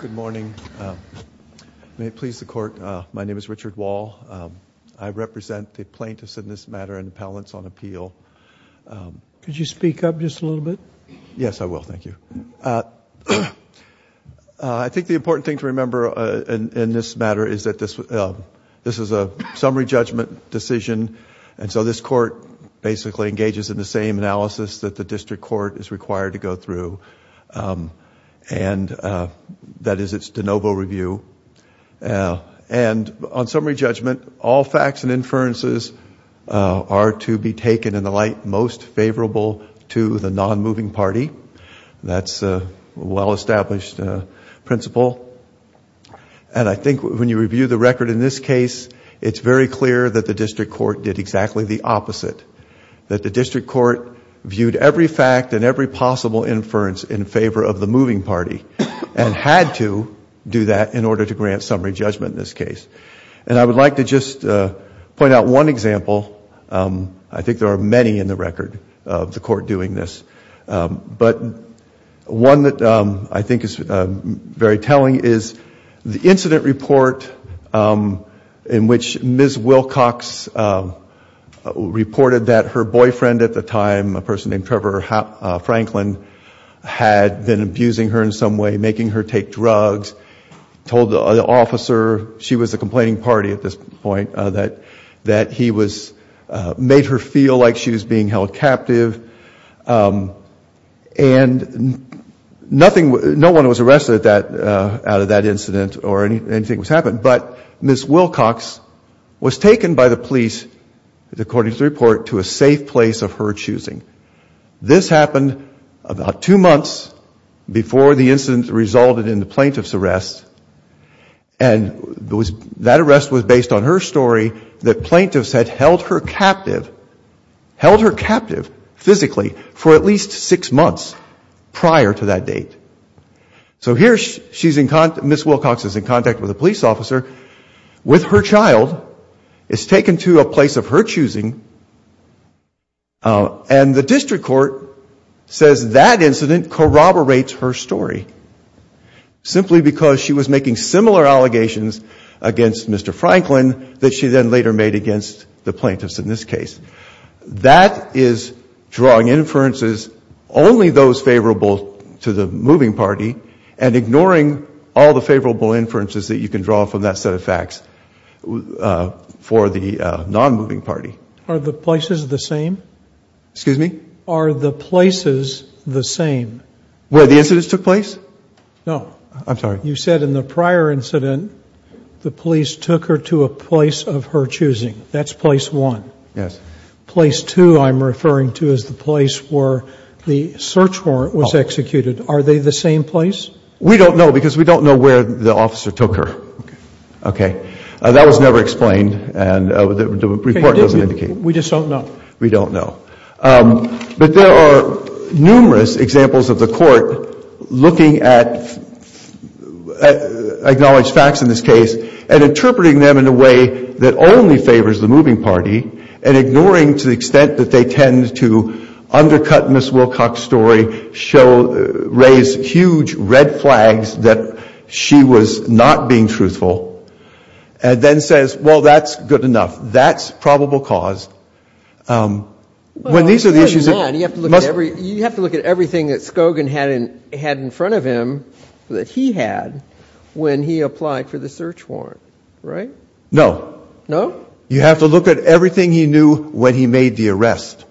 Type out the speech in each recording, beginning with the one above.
Good morning. May it please the court, my name is Richard Wall. I represent the plaintiffs in this matter and the panelists on appeal. Could you speak up just a little bit? Yes I will, thank you. I think the important thing to remember in this matter is that this this is a summary judgment decision and so this court basically engages in the same analysis that the district court is required to that is its de novo review and on summary judgment all facts and inferences are to be taken in the light most favorable to the non-moving party that's a well-established principle and I think when you review the record in this case it's very clear that the district court did exactly the opposite that the district court viewed every fact and every possible inference in had to do that in order to grant summary judgment in this case and I would like to just point out one example I think there are many in the record of the court doing this but one that I think is very telling is the incident report in which Ms. Wilcox reported that her boyfriend at the time a person named Trevor Franklin had been abusing her in some way making her take drugs told the officer she was a complaining party at this point that that he was made her feel like she was being held captive and nothing no one was arrested at that out of that incident or anything was happened but Ms. Wilcox was taken by the happened about two months before the incident resulted in the plaintiff's arrest and that arrest was based on her story that plaintiffs had held her captive held her captive physically for at least six months prior to that date so here she's in contact Ms. Wilcox is in contact with a police officer with her child is taken to a place of her choosing and the district court says that incident corroborates her story simply because she was making similar allegations against Mr. Franklin that she then later made against the plaintiffs in this case that is drawing inferences only those favorable to the moving party and ignoring all the favorable inferences that you can draw from that set of facts for the non-moving party are the places the same excuse me are the places the same where the incidents took place no I'm sorry you said in the prior incident the police took her to a place of her choosing that's place one yes place two I'm referring to is the place where the search warrant was executed are they the same place we don't know because we don't know where the officer took her okay that was never explained and the report doesn't indicate we just don't know we don't know but there are numerous examples of the court looking at acknowledged facts in this case and interpreting them in a way that only favors the moving party and ignoring to the extent that they tend to undercut miss Wilcox story show raise huge red flags that she was not being truthful and then says well that's good enough that's probable cause when these are the issues every you have to look at everything that Scogin hadn't had in front of him that he had when he applied for the search warrant right no no you have to look at everything he knew when he made the arrest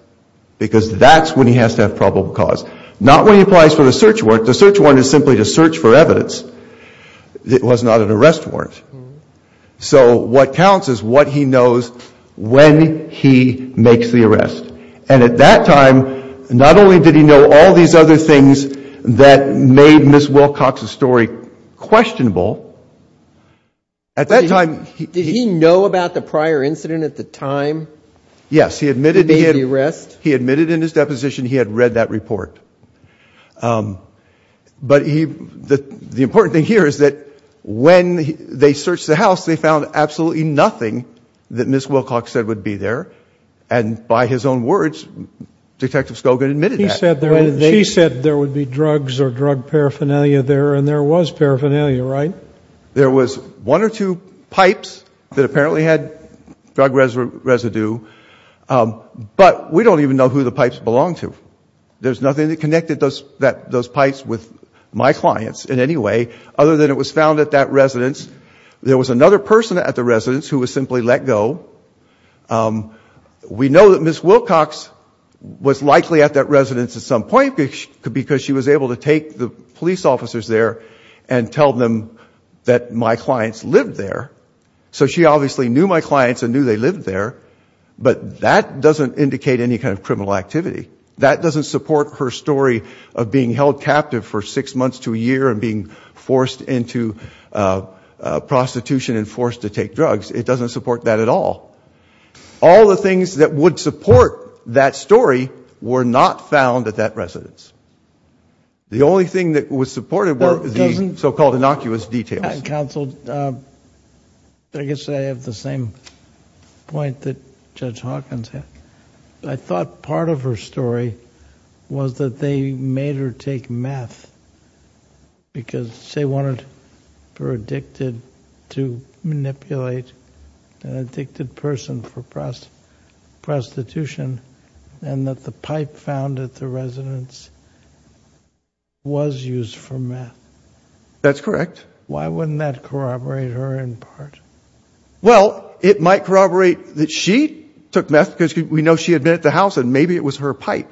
because that's when he has to have probable cause not when he applies for the search warrant the search warrant is simply to search for evidence it was not an arrest warrant so what counts is what he knows when he makes the arrest and at that time not only did he know all these other things that made miss Wilcox a story questionable at that time did he know about the prior incident at the time yes he admitted he had rest he admitted in his deposition he had read that report but he that the important thing here is that when they searched the house they found absolutely nothing that miss Wilcox said would be there and by his own words detective Scogin admitted he said there and he said there would be drugs or drug paraphernalia there and there was paraphernalia right there was one or two pipes that apparently had drug residue but we don't even know who the pipes belong to there's nothing that connected those that those pipes with my clients in any way other than it was found at that residence there was another person at the residence who was simply let go we know that miss Wilcox was likely at that residence at some point because she was able to take the police officers there and tell them that my clients lived there so she obviously knew my clients and knew they lived there but that doesn't indicate any kind of criminal activity that doesn't support her story of being held captive for six months to a year and being forced into prostitution and forced to take drugs it doesn't support that at all all the things that would support that story were not found at that residence the only thing that was supported were the so-called innocuous details counsel I guess I have the same point that judge Hawkins had I thought part of her story was that they made her take meth because they wanted her addicted to manipulate an addicted person for press prostitution and that the pipe found at the residence was used for meth that's correct why wouldn't that corroborate her in part well it might corroborate that she took meth because we know she admitted the house and maybe it was her pipe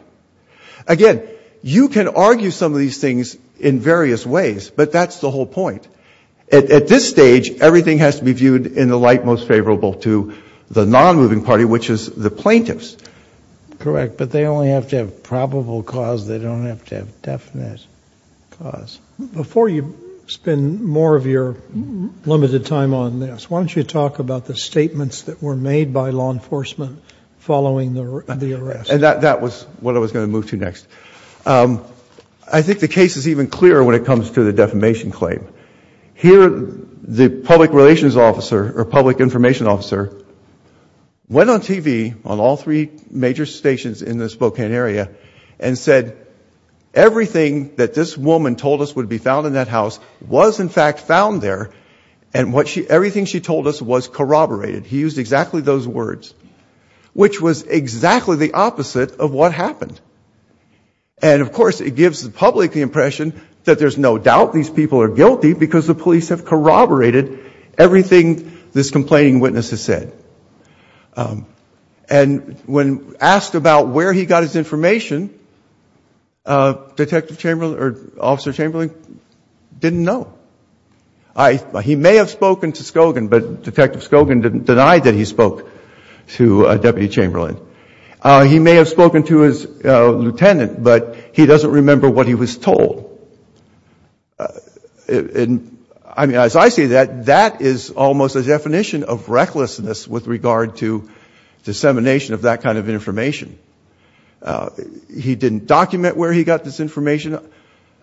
again you can argue some of these things in various ways but that's the whole point at this stage everything has to be viewed in the light most favorable to the non-moving party which is the plaintiffs correct but they only have to have probable cause they don't have to have definite cause before you spend more of your limited time on this why don't you talk about the statements that were made by law enforcement following the arrest and that that was what I was going to move to next I think the case is even clearer when it comes to the defamation claim here the public relations officer or public information officer went on TV on all three major stations in the Spokane area and said everything that this woman told us would be found in that house was in fact found there and what she everything she told us was corroborated he used exactly those words which was exactly the opposite of what happened and of course it gives the public the impression that there's no doubt these people are guilty because the police have corroborated everything this complaining witness has said and when asked about where he got his information detective Chamberlain or officer Chamberlain didn't know I he may have spoken to Scogin but detective Scogin didn't deny that he spoke to a deputy Chamberlain he may have spoken to his lieutenant but he doesn't remember what he was told and I mean as I see that that is almost a definition of recklessness with regard to dissemination of that kind of information he didn't document where he got this information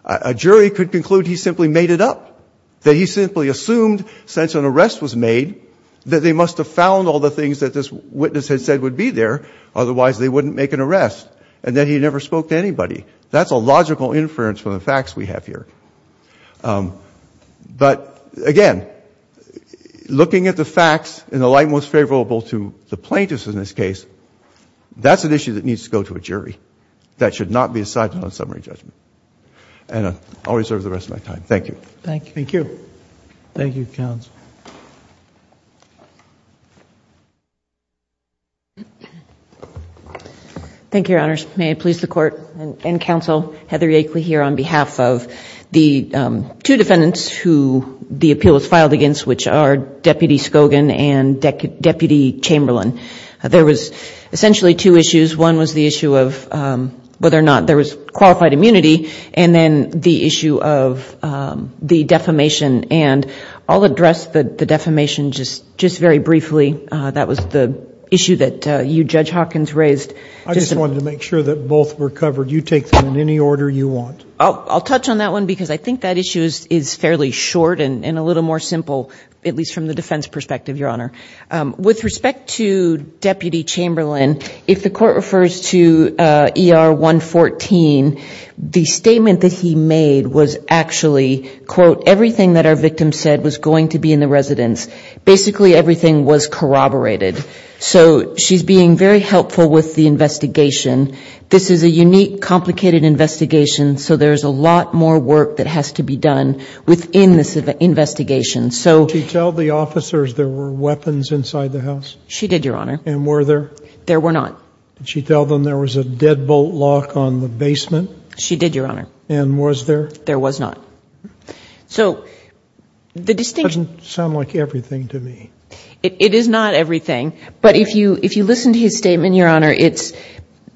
a jury could conclude he simply made it up that he simply assumed since an arrest was made that they must have found all the things that this witness had said would be there otherwise they wouldn't make an arrest and then he never spoke to anybody that's a logical inference from the facts we have here but again looking at the facts in the light most favorable to the plaintiffs in this case that's an issue that needs to go to a jury that should not be decided on summary judgment and I'll reserve the rest of my time thank you thank you thank you counts thank your honors may I please the court and counsel Heather Yankley here on behalf of the two defendants who the appeal was filed against which are deputy Scogin and deputy Chamberlain there was essentially two issues one was the issue of whether or not there was qualified immunity and then the issue of the defamation and I'll address the defamation just just very briefly that was the issue that you judge Hawkins raised I just wanted to make sure that both were covered you take them in any order you want oh I'll touch on that one because I think that issue is fairly short and a little more simple at least from the defense perspective your honor with respect to deputy Chamberlain if the court refers to er 114 the statement that he made was actually quote everything that our victim said was going to be in the residence basically everything was corroborated so she's being very helpful with the investigation this is a unique complicated investigation so there's a lot more work that has to be done within this investigation so you tell the officers there were weapons inside the house she did your honor and were there there were not did she tell them there was a deadbolt lock on the basement she did your honor and was there there was not so the distinction sound like everything to me it is not everything but if you if you listen to his statement your honor it's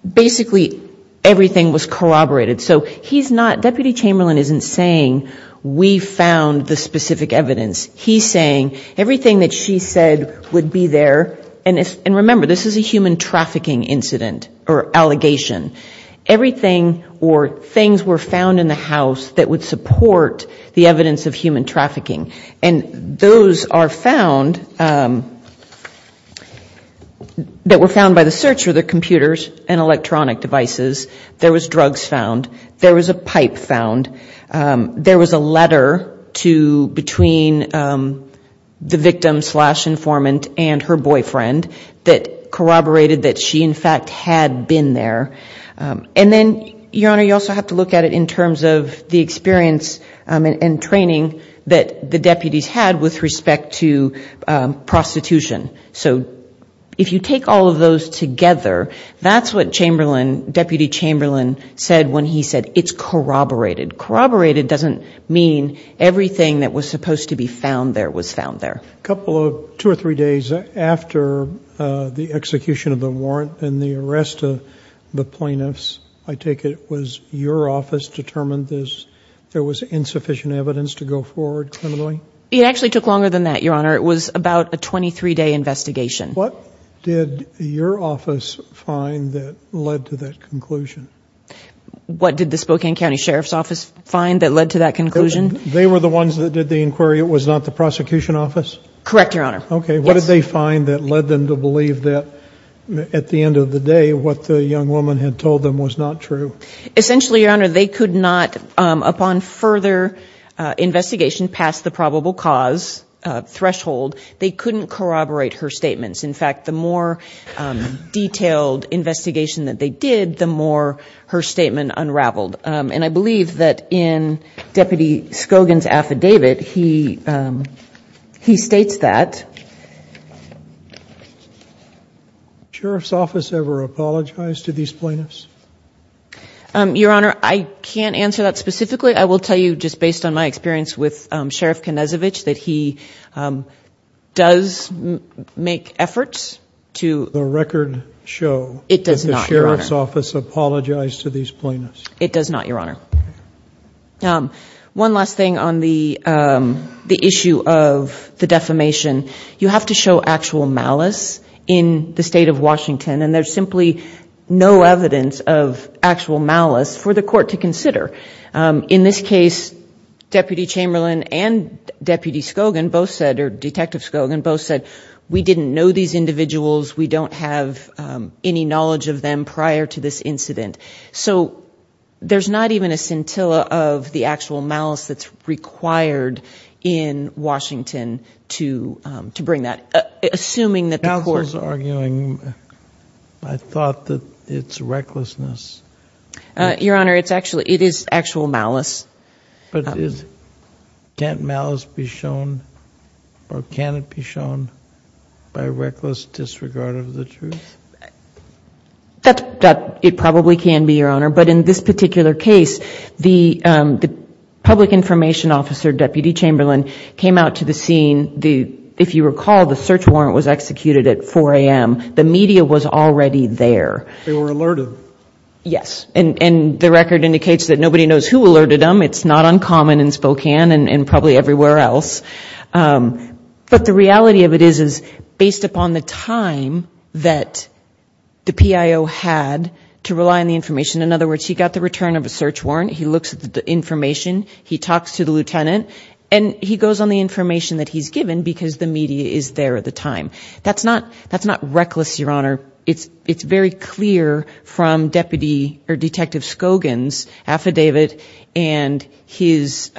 basically everything was corroborated so he's not deputy Chamberlain isn't saying we found the specific evidence he's saying everything that she said would be there and it's and remember this is a human trafficking incident or allegation everything or things were found in the house that would support the evidence of human trafficking and those are found that were found by the search for their computers and electronic devices there was drugs found there was a pipe found there was a letter to between the victim slash informant and her boyfriend that corroborated that she in fact had been there and then your honor you also have to look at it in terms of the experience and training that the deputies had with respect to prostitution so if you take all of those together that's what Chamberlain deputy Chamberlain said when he said it's corroborated corroborated doesn't mean everything that was supposed to be found there was found there a couple of two or three days after the execution of the warrant and the arrest of the plaintiffs I take it was your office determined this there was insufficient evidence to go forward it actually took longer than that your honor it was about a 23 day conclusion what did the Spokane County Sheriff's Office find that led to that conclusion they were the ones that did the inquiry it was not the prosecution office correct your honor okay what did they find that led them to believe that at the end of the day what the young woman had told them was not true essentially your honor they could not upon further investigation past the probable cause threshold they couldn't corroborate her statements in fact the more detailed investigation that they did the more her statement unraveled and I believe that in deputy Scogin's affidavit he he states that Sheriff's Office ever apologized to these plaintiffs your honor I can't answer that specifically I will tell you just based on my experience with Sheriff Konezovich that he does make efforts to the record show it does not Sheriff's Office apologized to these plaintiffs it does not your honor now one last thing on the the issue of the defamation you have to show actual malice in the state of Washington and there's simply no evidence of actual malice for the court to consider in this case deputy Chamberlain and deputy Scogin both said or detective Scogin both said we didn't know these individuals we don't have any knowledge of them prior to this incident so there's not even a scintilla of the actual malice that's required in Washington to to bring that assuming arguing I thought that it's recklessness your honor it's actually it is actual malice but is can't malice be shown or can it be shown by reckless disregard of the truth that it probably can be your honor but in this particular case the the public information officer deputy Chamberlain came out to the scene the if 4 a.m. the media was already there they were alerted yes and and the record indicates that nobody knows who alerted them it's not uncommon in Spokane and probably everywhere else but the reality of it is is based upon the time that the PIO had to rely on the information in other words he got the return of a search warrant he looks at the information he talks to the lieutenant and he goes on the information that he's given because the media is there at the time that's not that's not reckless your honor it's it's very clear from deputy or detective Scogin's affidavit and his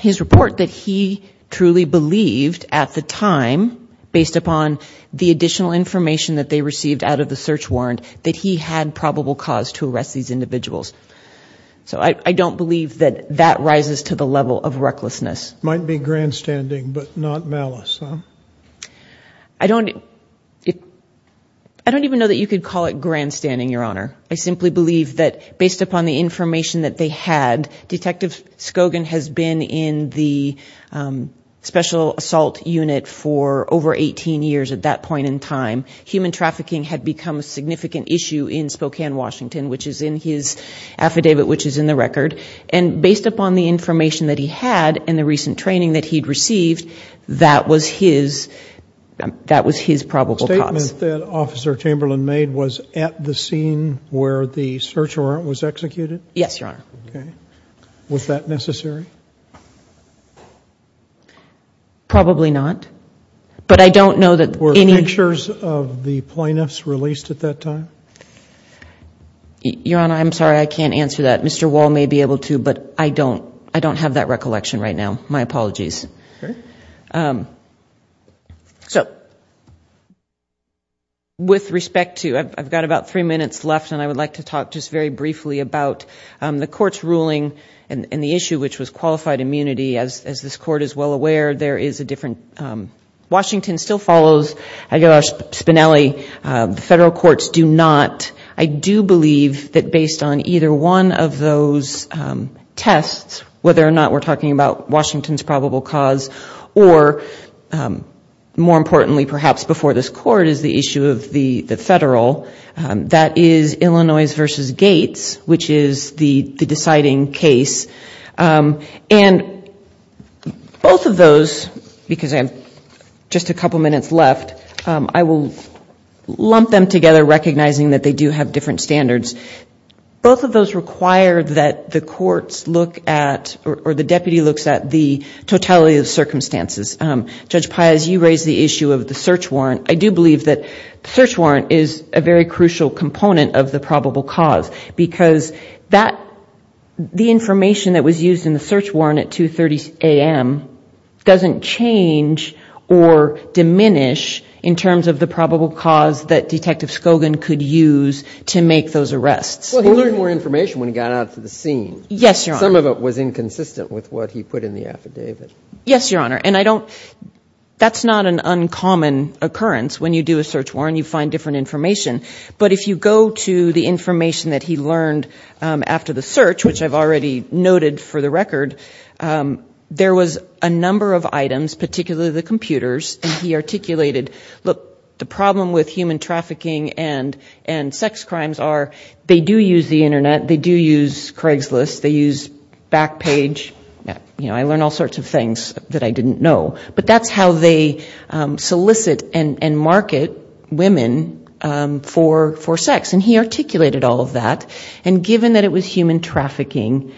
his report that he truly believed at the time based upon the additional information that they received out of the search warrant that he had probable cause to arrest these individuals so I don't believe that that rises to the level of recklessness might be grandstanding but not malice I don't I don't even know that you could call it grandstanding your honor I simply believe that based upon the information that they had detective Scogin has been in the special assault unit for over 18 years at that point in time human trafficking had become a significant issue in Spokane Washington which is in his affidavit which is in the record and based upon the information that he had in the recent training that he'd received that was his that was his probable statement that officer Chamberlain made was at the scene where the search warrant was executed yes your honor okay was that necessary probably not but I don't know that were pictures of the plaintiffs released at that time your honor I'm sorry I can't answer that Mr. Wall may be able to but I don't I don't have that recollection right now my apologies so with respect to I've got about three minutes left and I would like to talk just very briefly about the court's ruling and the issue which was qualified immunity as this court is well aware there is a different Washington still follows I got a spinelli the federal courts do not I do believe that either one of those tests whether or not we're talking about Washington's probable cause or more importantly perhaps before this court is the issue of the the federal that is Illinois's versus gates which is the the deciding case and both of those because I'm just a couple minutes left I will lump them together recognizing that they do have different standards both of those require that the courts look at or the deputy looks at the totality of circumstances judge pies you raise the issue of the search warrant I do believe that search warrant is a very crucial component of the probable cause because that the information that was used in the search warrant at 2 30 a.m. doesn't change or diminish in terms of the probable cause that detective Scogin could use to make those arrests more information when he got out to the scene yes some of it was inconsistent with what he put in the affidavit yes your honor and I don't that's not an uncommon occurrence when you do a search warrant you find different information but if you go to the information that he learned after the search which I've already noted for the record there was a particular the computers and he articulated look the problem with human trafficking and and sex crimes are they do use the internet they do use Craigslist they use back page yeah you know I learned all sorts of things that I didn't know but that's how they solicit and and market women for for sex and he articulated all of that and given that it was human trafficking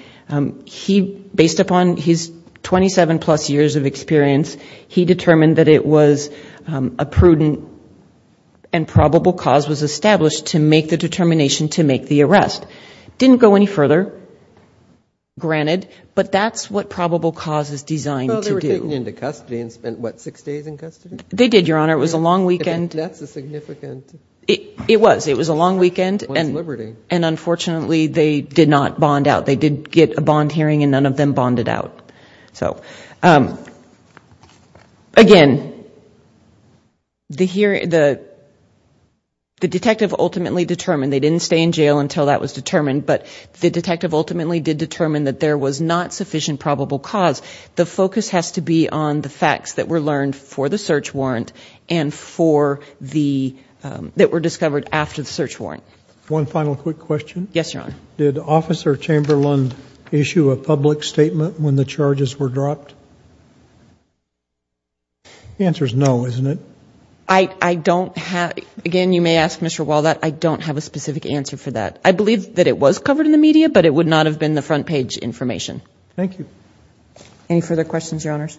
he based upon his 27 plus years of experience he determined that it was a prudent and probable cause was established to make the determination to make the arrest didn't go any further granted but that's what probable cause is designed to do into custody and spent what six days in custody they did your honor it was a long weekend that's a significant it it was it was a long weekend and liberty and unfortunately they did not bond out they did get a bond hearing and none of them bonded out so again the here the detective ultimately determined they didn't stay in jail until that was determined but the detective ultimately did determine that there was not sufficient probable cause the focus has to be on the facts that were learned for the search warrant and for the that were discovered after the search warrant one final quick question yes your honor did officer chamberlain issue a public statement when the charges were dropped answers no isn't it I I don't have again you may ask mr. wall that I don't have a specific answer for that I believe that it was covered in the media but it would not have been the front page information thank you any further questions your honors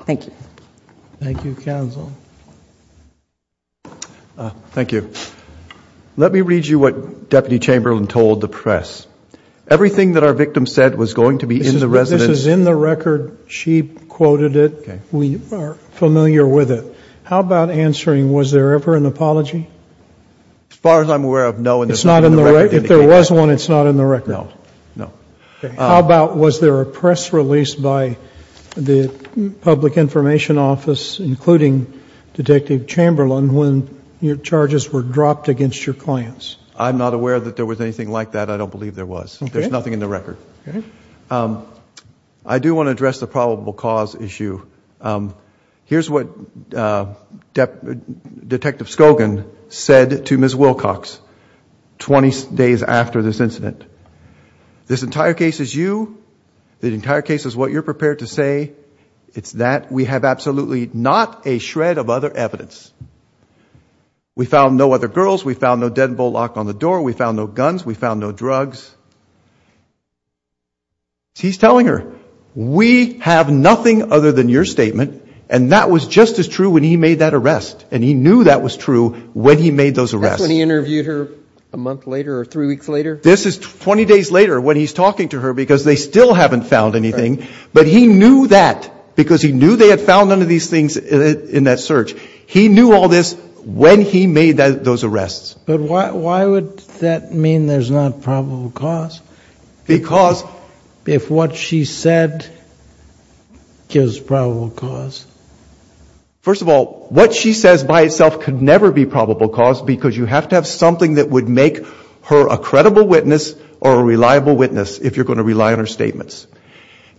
thank you thank you counsel thank you let me read you what deputy chamberlain told the press everything that our victim said was going to be in the residence is in the record she quoted it we are familiar with it how about answering was there ever an apology as far as I'm aware of no it's not in the right if there was one it's not in the record no no how about was there a press release by the public information office including detective chamberlain when your charges were dropped against your clients I'm not aware that there was anything like that I don't believe there was there's nothing in the record I do want to address the probable cause issue here's what depth detective Scogin said to ms. Wilcox 20 days after this incident this entire case is you the entire case is what you're prepared to say it's that we have absolutely not a shred of other evidence we found no other girls we found no guns we found no drugs he's telling her we have nothing other than your statement and that was just as true when he made that arrest and he knew that was true when he made those arrests when he interviewed her a month later or three weeks later this is 20 days later when he's talking to her because they still haven't found anything but he knew that because he knew they had found none of these things in that search he knew all this when he made those arrests but why would that mean there's not probable cause because if what she said gives probable cause first of all what she says by itself could never be probable cause because you have to have something that would make her a credible witness or a reliable witness if you're going to rely on her statements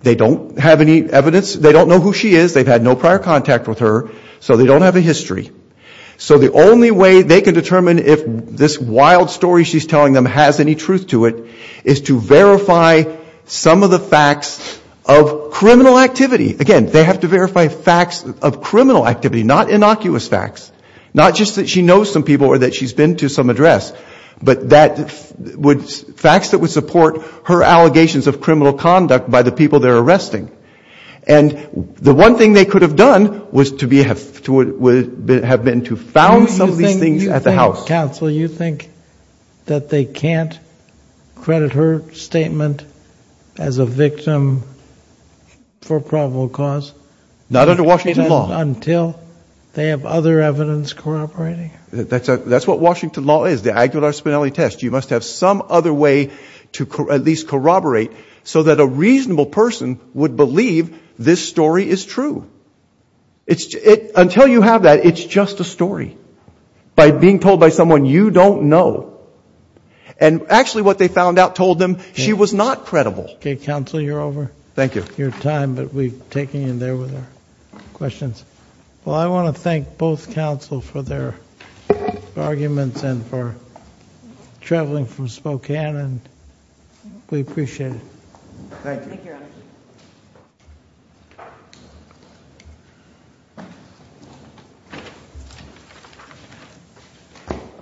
they don't have any evidence they don't know who she is they've had no prior contact with her so they don't have a history so the only way they can determine if this wild story she's telling them has any truth to it is to verify some of the facts of criminal activity again they have to verify facts of criminal activity not innocuous facts not just that she knows some people or that she's been to some address but that would facts that would support her allegations of criminal conduct by the people they're arresting and the one thing they could have done was to be have to have been to found some of these things at the house counsel you think that they can't credit her statement as a victim for probable cause not under Washington law until they have other evidence corroborating that's a that's what Washington law is the Aguilar Spinelli test you must have some other way to at least corroborate so that a reasonable person would leave this story is true it's it until you have that it's just a story by being told by someone you don't know and actually what they found out told them she was not credible okay counsel you're over thank you your time but we've taken in there with her questions well I want to thank both counsel for their arguments and for traveling from Spokane and we appreciate it